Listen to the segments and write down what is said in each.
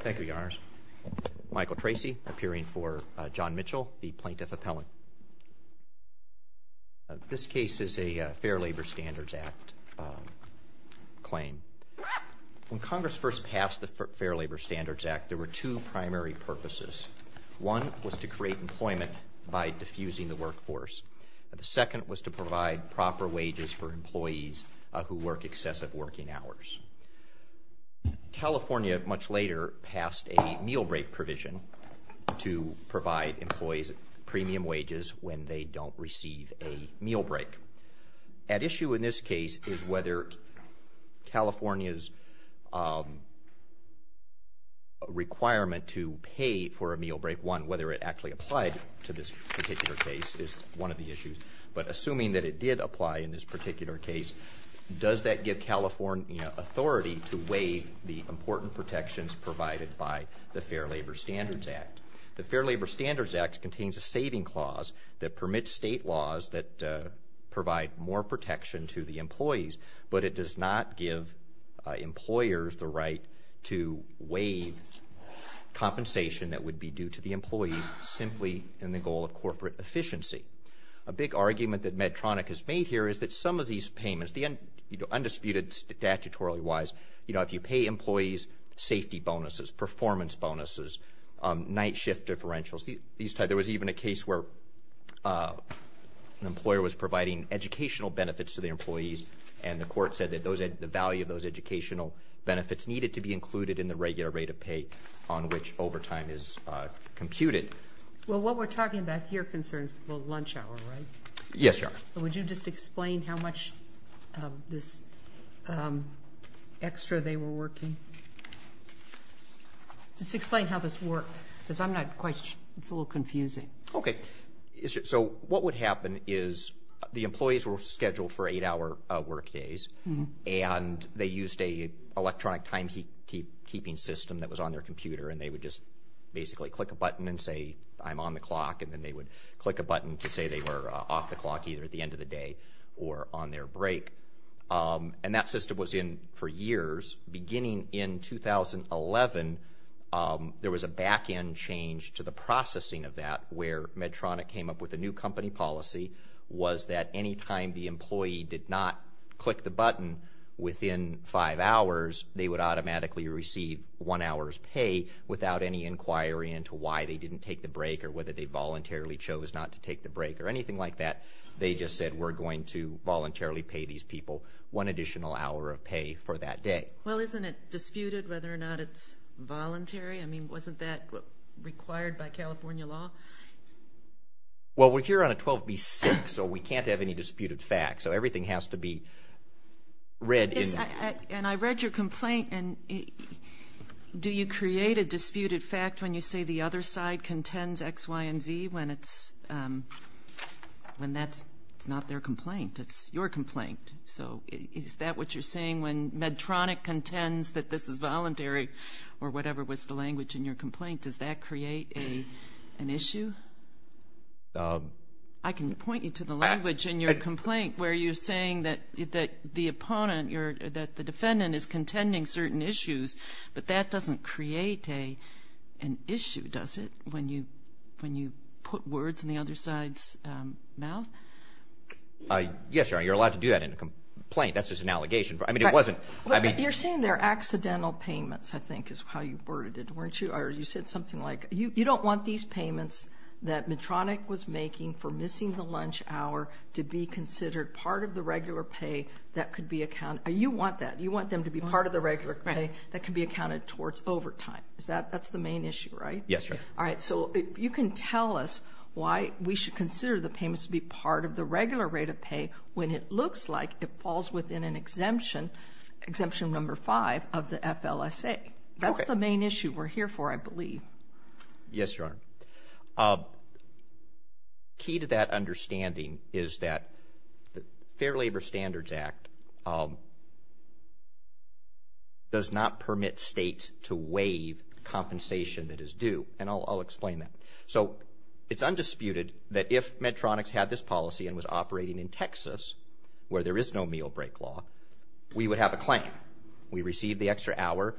Thank you, Your Honors. Michael Tracy, appearing for John Mitchell, the Plaintiff Appellant. This case is a Fair Labor Standards Act claim. When Congress first passed the Fair Labor Standards Act, there were two primary purposes. One was to create employment by diffusing the workforce. The second was to provide proper wages for employees who work excessive working hours. California, much later, passed a meal break provision to provide employees premium wages when they don't receive a meal break. At issue in this case is whether California's requirement to pay for a meal break, whether it actually applied to this particular case, is one of the issues. But assuming that it did apply in this particular case, does that give California authority to waive the important protections provided by the Fair Labor Standards Act? The Fair Labor Standards Act contains a saving clause that permits state laws that provide more protection to the employees, but it does not give employers the right to waive compensation that would be due to the employees simply in the goal of corporate efficiency. A big argument that Medtronic has made here is that some of these payments, undisputed statutorily-wise, if you pay employees safety bonuses, performance bonuses, night shift differentials, there was even a case where an employer was providing educational benefits to the employees and the court said that the value of those educational benefits needed to be included in the regular rate of pay on which overtime is computed. Well, what we're talking about here concerns the lunch hour, right? Yes, Your Honor. Would you just explain how much of this extra they were working? Just explain how this worked because it's a little confusing. Okay. So what would happen is the employees were scheduled for eight-hour work days and they used an electronic timekeeping system that was on their computer and they would just basically click a button and say, I'm on the clock, and then they would click a button to say they were off the clock either at the end of the day or on their break. And that system was in for years. Beginning in 2011, there was a back-end change to the processing of that where Medtronic came up with a new company policy, was that any time the employee did not click the button within five hours, they would automatically receive one hour's pay without any inquiry into why they didn't take the break or whether they voluntarily chose not to take the break or anything like that. They just said, we're going to voluntarily pay these people one additional hour of pay for that day. Well, isn't it disputed whether or not it's voluntary? I mean, wasn't that required by California law? Well, we're here on a 12B-6, so we can't have any disputed facts. So everything has to be read. And I read your complaint. Do you create a disputed fact when you say the other side contends X, Y, and Z when that's not their complaint? It's your complaint. So is that what you're saying when Medtronic contends that this is voluntary or whatever was the language in your complaint? Does that create an issue? I can point you to the language in your complaint where you're saying that the opponent, that the defendant is contending certain issues, but that doesn't create an issue, does it, when you put words in the other side's mouth? Yes, Your Honor, you're allowed to do that in a complaint. That's just an allegation. I mean, it wasn't. You're saying they're accidental payments, I think is how you worded it, weren't you? Or you said something like, you don't want these payments that Medtronic was making for missing the lunch hour to be considered part of the regular pay that could be accounted for. You want that. You want them to be part of the regular pay that can be accounted towards overtime. That's the main issue, right? Yes, Your Honor. All right, so you can tell us why we should consider the payments to be part of the regular rate of pay when it looks like it falls within an exemption, Exemption No. 5 of the FLSA. That's the main issue we're here for, I believe. Yes, Your Honor. Key to that understanding is that the Fair Labor Standards Act does not permit states to waive compensation that is due, and I'll explain that. So it's undisputed that if Medtronics had this policy and was operating in Texas, where there is no meal break law, we would have a claim. We receive the extra hour.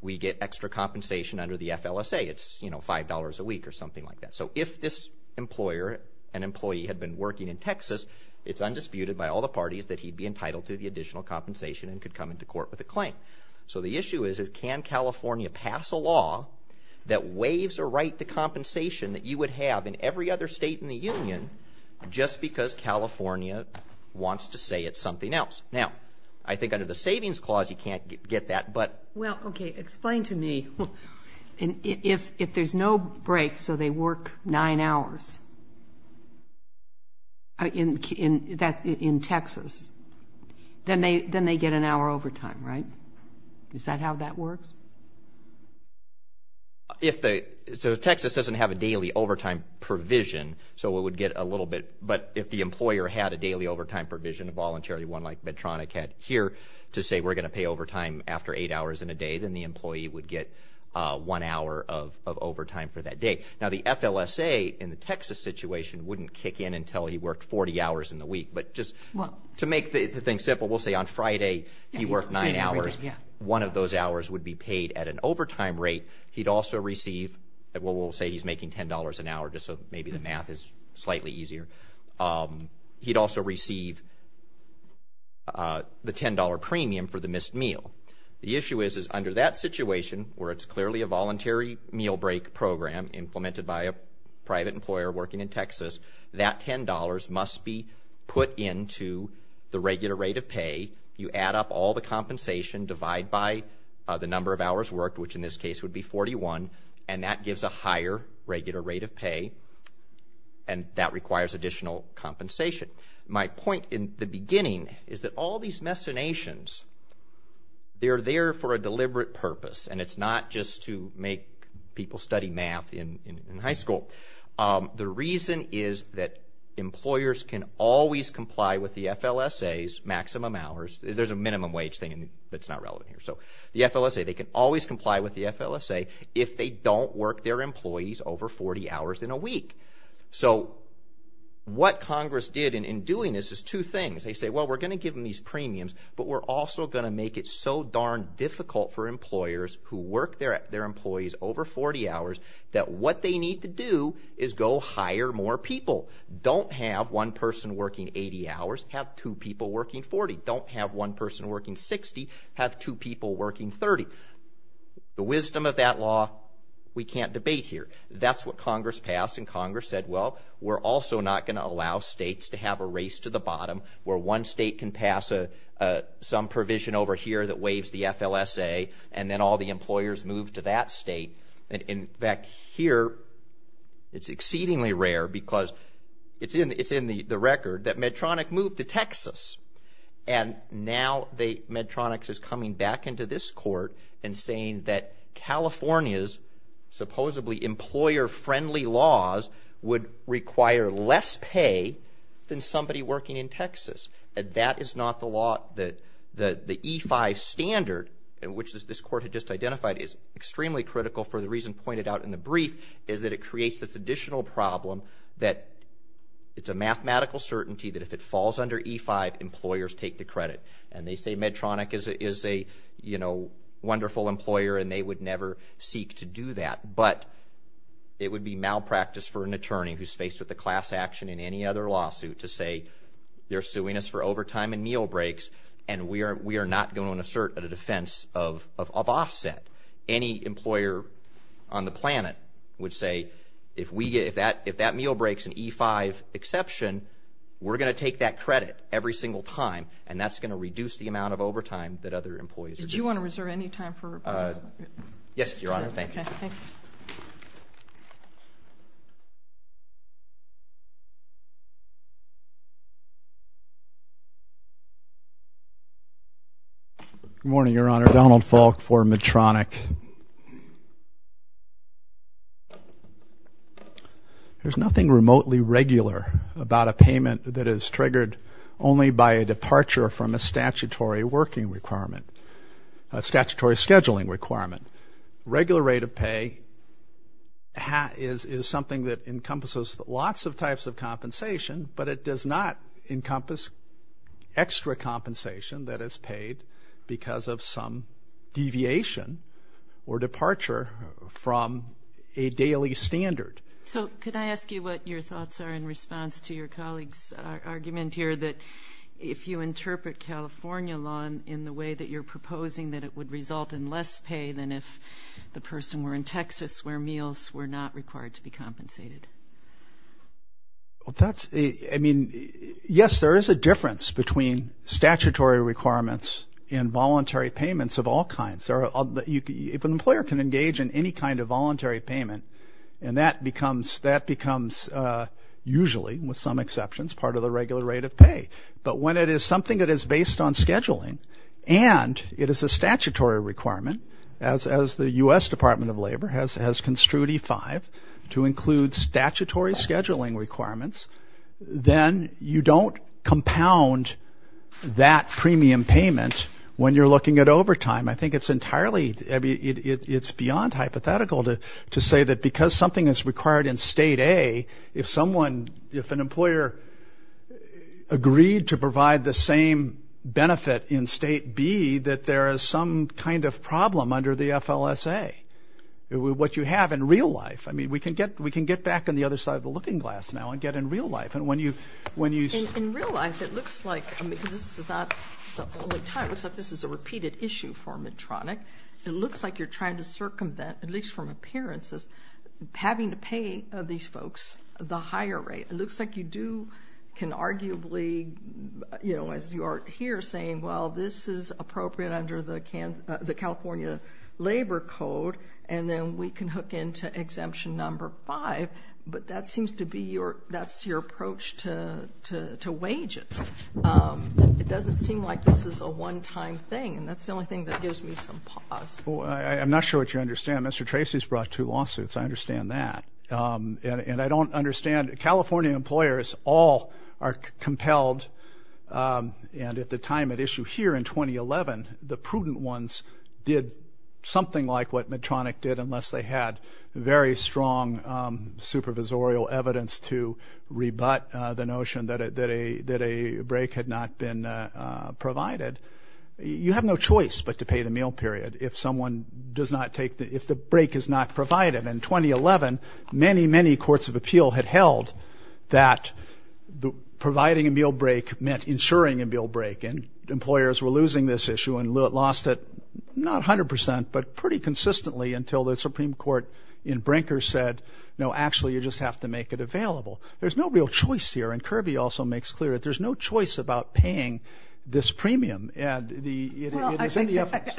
We get extra compensation under the FLSA. It's, you know, $5 a week or something like that. So if this employer, an employee, had been working in Texas, it's undisputed by all the parties that he'd be entitled to the additional compensation and could come into court with a claim. So the issue is can California pass a law that waives a right to compensation that you would have in every other state in the union just because California wants to say it's something else? Now, I think under the Savings Clause you can't get that. Well, okay, explain to me. If there's no break, so they work nine hours in Texas, then they get an hour overtime, right? Is that how that works? So Texas doesn't have a daily overtime provision, so it would get a little bit, but if the employer had a daily overtime provision voluntarily, one like Medtronic had here, to say we're going to pay overtime after eight hours in a day, then the employee would get one hour of overtime for that day. Now, the FLSA in the Texas situation wouldn't kick in until he worked 40 hours in the week, but just to make the thing simple, we'll say on Friday he worked nine hours. One of those hours would be paid at an overtime rate. He'd also receive, well, we'll say he's making $10 an hour just so maybe the math is slightly easier. He'd also receive the $10 premium for the missed meal. The issue is under that situation where it's clearly a voluntary meal break program implemented by a private employer working in Texas, that $10 must be put into the regular rate of pay. You add up all the compensation, divide by the number of hours worked, which in this case would be 41, and that gives a higher regular rate of pay, and that requires additional compensation. My point in the beginning is that all these machinations, they're there for a deliberate purpose, and it's not just to make people study math in high school. The reason is that employers can always comply with the FLSA's maximum hours. There's a minimum wage thing that's not relevant here. So the FLSA, they can always comply with the FLSA if they don't work their employees over 40 hours in a week. So what Congress did in doing this is two things. They say, well, we're going to give them these premiums, but we're also going to make it so darn difficult for employers who work their employees over 40 hours that what they need to do is go hire more people. Don't have one person working 80 hours, have two people working 40. Don't have one person working 60, have two people working 30. The wisdom of that law, we can't debate here. That's what Congress passed, and Congress said, well, we're also not going to allow states to have a race to the bottom where one state can pass some provision over here that waives the FLSA, and then all the employers move to that state. In fact, here it's exceedingly rare because it's in the record that Medtronic moved to Texas, and now Medtronic is coming back into this court and saying that California's supposedly employer-friendly laws would require less pay than somebody working in Texas, and that is not the law that the E-5 standard, which this court had just identified, is extremely critical for the reason pointed out in the brief, is that it creates this additional problem that it's a mathematical certainty that if it falls under E-5, employers take the credit, and they say Medtronic is a wonderful employer and they would never seek to do that, but it would be malpractice for an attorney who's faced with a class action in any other lawsuit to say, they're suing us for overtime and meal breaks, and we are not going to assert a defense of offset. Any employer on the planet would say, if that meal break's an E-5 exception, we're going to take that credit every single time, and that's going to reduce the amount of overtime that other employees are getting. Did you want to reserve any time for rebuttal? Yes, Your Honor. Thank you. Good morning, Your Honor. Donald Falk for Medtronic. There's nothing remotely regular about a payment that is triggered only by a departure from a statutory working requirement, a statutory scheduling requirement. Regular rate of pay is something that encompasses lots of types of compensation, but it does not encompass extra compensation that is paid because of some deviation or departure from a daily standard. So could I ask you what your thoughts are in response to your colleague's argument here that if you interpret California law in the way that you're proposing, that it would result in less pay than if the person were in Texas where meals were not required to be compensated? I mean, yes, there is a difference between statutory requirements and voluntary payments of all kinds. If an employer can engage in any kind of voluntary payment, and that becomes usually, with some exceptions, part of the regular rate of pay. But when it is something that is based on scheduling and it is a statutory requirement, as the U.S. Department of Labor has construed E-5 to include statutory scheduling requirements, then you don't compound that premium payment when you're looking at overtime. I think it's entirely beyond hypothetical to say that because something is required in State A, if someone, if an employer agreed to provide the same benefit in State B, that there is some kind of problem under the FLSA, what you have in real life. I mean, we can get back on the other side of the looking glass now and get in real life. In real life, it looks like this is a repeated issue for Medtronic. It looks like you're trying to circumvent, at least from appearances, having to pay these folks the higher rate. It looks like you do, can arguably, you know, as you are here saying, well, this is appropriate under the California Labor Code, and then we can hook into Exemption No. 5. But that seems to be your, that's your approach to wages. It doesn't seem like this is a one-time thing, and that's the only thing that gives me some pause. I'm not sure what you understand. Mr. Tracy's brought two lawsuits. I understand that. And I don't understand. California employers all are compelled, and at the time at issue here in 2011, the prudent ones did something like what Medtronic did unless they had very strong supervisorial evidence to rebut the notion that a break had not been provided. You have no choice but to pay the meal period if someone does not take, if the break is not provided. In 2011, many, many courts of appeal had held that providing a meal break meant insuring a meal break, and employers were losing this issue and lost it, not 100 percent, but pretty consistently until the Supreme Court in Brinker said, no, actually, you just have to make it available. There's no real choice here, and Kirby also makes clear that there's no choice about paying this premium. Well, I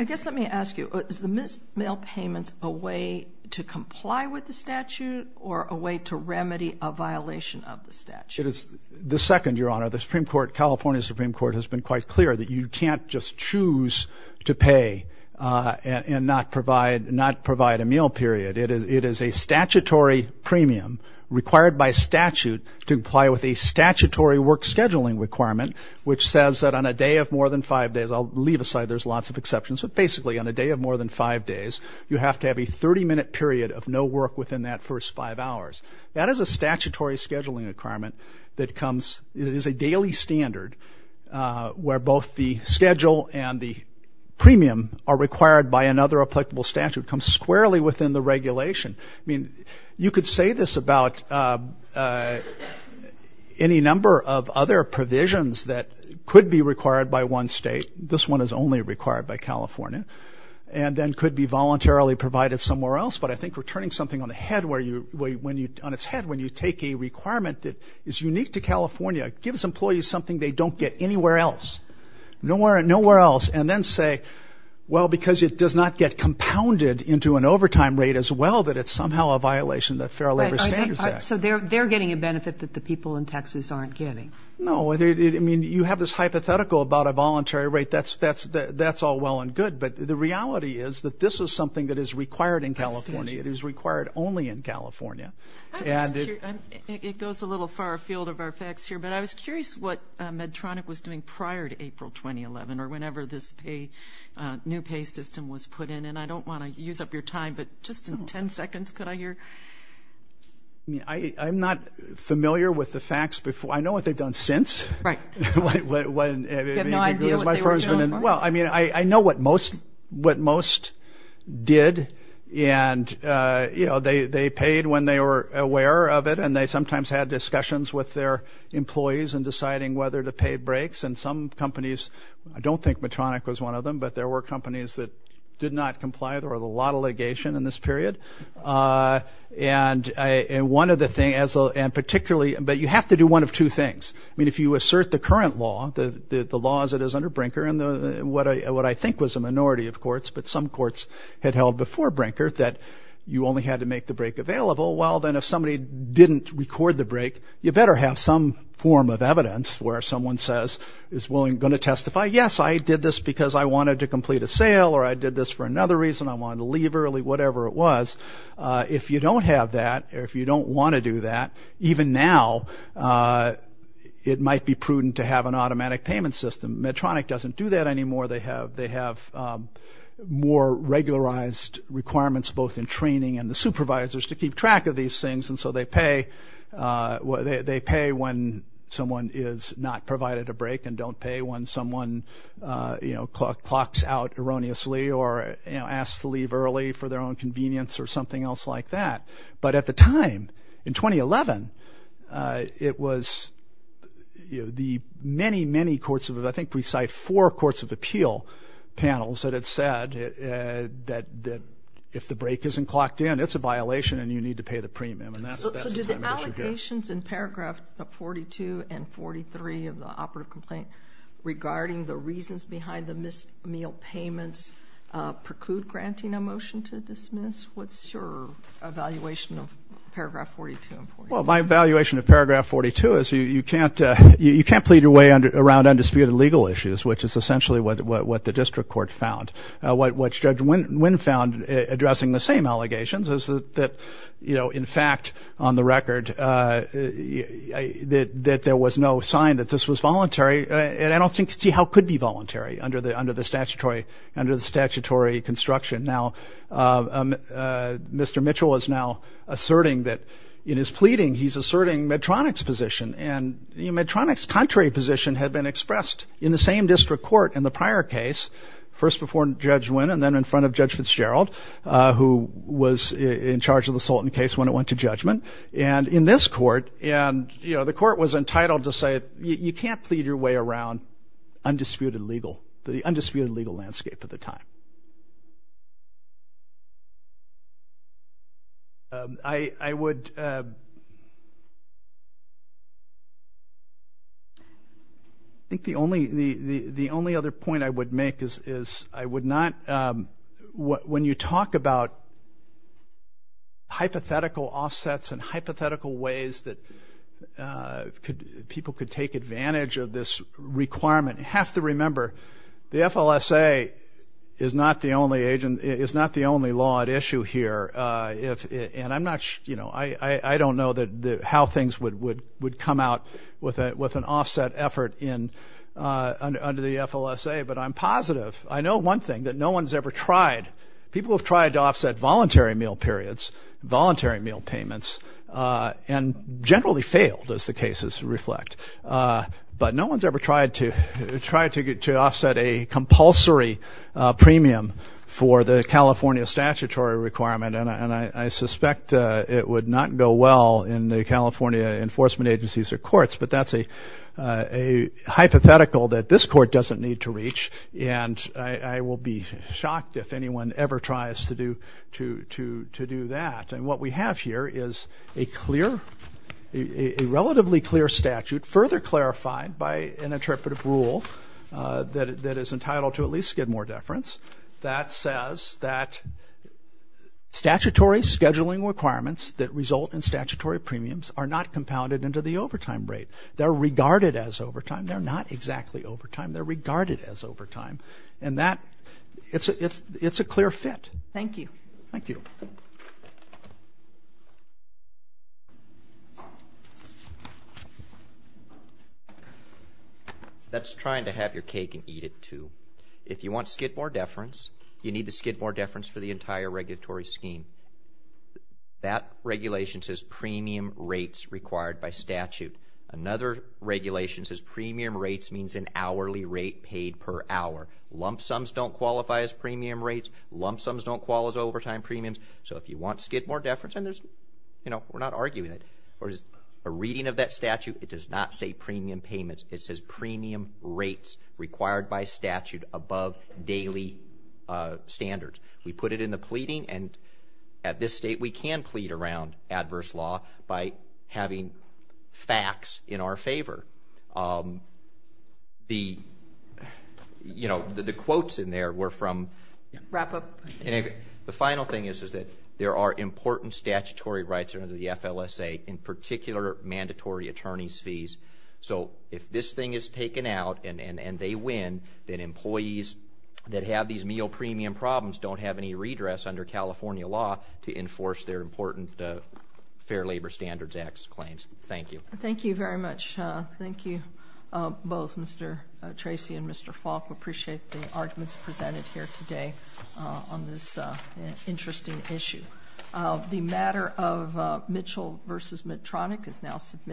guess let me ask you, is the missed mail payments a way to comply with the statute or a way to remedy a violation of the statute? The second, Your Honor, the Supreme Court, California Supreme Court, has been quite clear that you can't just choose to pay and not provide a meal period. It is a statutory premium required by statute to comply with a statutory work scheduling requirement, which says that on a day of more than five days, I'll leave aside there's lots of exceptions, but basically on a day of more than five days, you have to have a 30-minute period of no work within that first five hours. That is a statutory scheduling requirement that comes, it is a daily standard where both the schedule and the premium are required by another applicable statute, comes squarely within the regulation. I mean, you could say this about any number of other provisions that could be required by one state. This one is only required by California and then could be voluntarily provided somewhere else, but I think we're turning something on its head when you take a requirement that is unique to California, gives employees something they don't get anywhere else, nowhere else, and then say, well, because it does not get compounded into an overtime rate as well that it's somehow a violation of the Fair Labor Standards Act. So they're getting a benefit that the people in Texas aren't getting. No. I mean, you have this hypothetical about a voluntary rate. That's all well and good, but the reality is that this is something that is required in California. It is required only in California. It goes a little far afield of our facts here, but I was curious what Medtronic was doing prior to April 2011 or whenever this new pay system was put in, and I don't want to use up your time, but just in 10 seconds, could I hear? I'm not familiar with the facts. I know what they've done since. Right. You have no idea what they were doing? Well, I mean, I know what most did, and, you know, they paid when they were aware of it, and they sometimes had discussions with their employees in deciding whether to pay breaks, and some companies, I don't think Medtronic was one of them, but there were companies that did not comply. There was a lot of litigation in this period, and one of the things, and particularly, but you have to do one of two things. I mean, if you assert the current law, the laws that is under Brinker and what I think was a minority of courts, but some courts had held before Brinker that you only had to make the break available, well, then if somebody didn't record the break, you better have some form of evidence where someone says, is going to testify, yes, I did this because I wanted to complete a sale, or I did this for another reason, I wanted to leave early, whatever it was. If you don't have that, or if you don't want to do that, even now, it might be prudent to have an automatic payment system. Medtronic doesn't do that anymore. They have more regularized requirements both in training and the supervisors to keep track of these things, and so they pay when someone is not provided a break and don't pay when someone clocks out erroneously or asks to leave early for their own convenience or something else like that. But at the time, in 2011, it was the many, many courts, I think we cite four courts of appeal panels, that had said that if the break isn't clocked in, it's a violation and you need to pay the premium. So do the allocations in paragraph 42 and 43 of the operative complaint regarding the reasons behind the missed meal payments what's your evaluation of paragraph 42 and 43? Well, my evaluation of paragraph 42 is you can't plead your way around undisputed legal issues, which is essentially what the district court found. What Judge Wynn found addressing the same allegations is that, in fact, on the record, that there was no sign that this was voluntary, and I don't see how it could be voluntary under the statutory construction. Now, Mr. Mitchell is now asserting that in his pleading, he's asserting Medtronic's position, and Medtronic's contrary position had been expressed in the same district court in the prior case, first before Judge Wynn and then in front of Judge Fitzgerald, who was in charge of the Sultan case when it went to judgment, and in this court, and the court was entitled to say you can't plead your way around undisputed legal, the undisputed legal landscape at the time. I would, I think the only other point I would make is I would not, when you talk about hypothetical offsets and hypothetical ways that people could take advantage of this requirement, you have to remember the FLSA is not the only law at issue here, and I'm not, you know, I don't know how things would come out with an offset effort under the FLSA, but I'm positive. I know one thing, that no one's ever tried, people have tried to offset voluntary meal periods, voluntary meal payments, and generally failed, as the cases reflect, but no one's ever tried to offset a compulsory premium for the California statutory requirement, and I suspect it would not go well in the California enforcement agencies or courts, but that's a hypothetical that this court doesn't need to reach, and I will be shocked if anyone ever tries to do that, and what we have here is a clear, a relatively clear statute, further clarified by an interpretive rule that is entitled to at least skid more deference, that says that statutory scheduling requirements that result in statutory premiums are not compounded into the overtime rate. They're regarded as overtime, they're not exactly overtime, they're regarded as overtime, and that, it's a clear fit. Thank you. Thank you. That's trying to have your cake and eat it, too. If you want skid more deference, you need to skid more deference for the entire regulatory scheme. That regulation says premium rates required by statute. Another regulation says premium rates means an hourly rate paid per hour. Lump sums don't qualify as premium rates. Lump sums don't qualify as overtime premiums. So if you want skid more deference, and there's, you know, we're not arguing it, or just a reading of that statute, it does not say premium payments. It says premium rates required by statute above daily standards. We put it in the pleading, and at this state, we can plead around adverse law by having facts in our favor. The, you know, the quotes in there were from. Wrap up. The final thing is that there are important statutory rights under the FLSA, in particular, mandatory attorney's fees. So if this thing is taken out and they win, then employees that have these meal premium problems don't have any redress under California law to enforce their important Fair Labor Standards Act claims. Thank you. Thank you very much. Thank you both, Mr. Tracy and Mr. Falk. We appreciate the arguments presented here today on this interesting issue. The matter of Mitchell v. Medtronic is now submitted.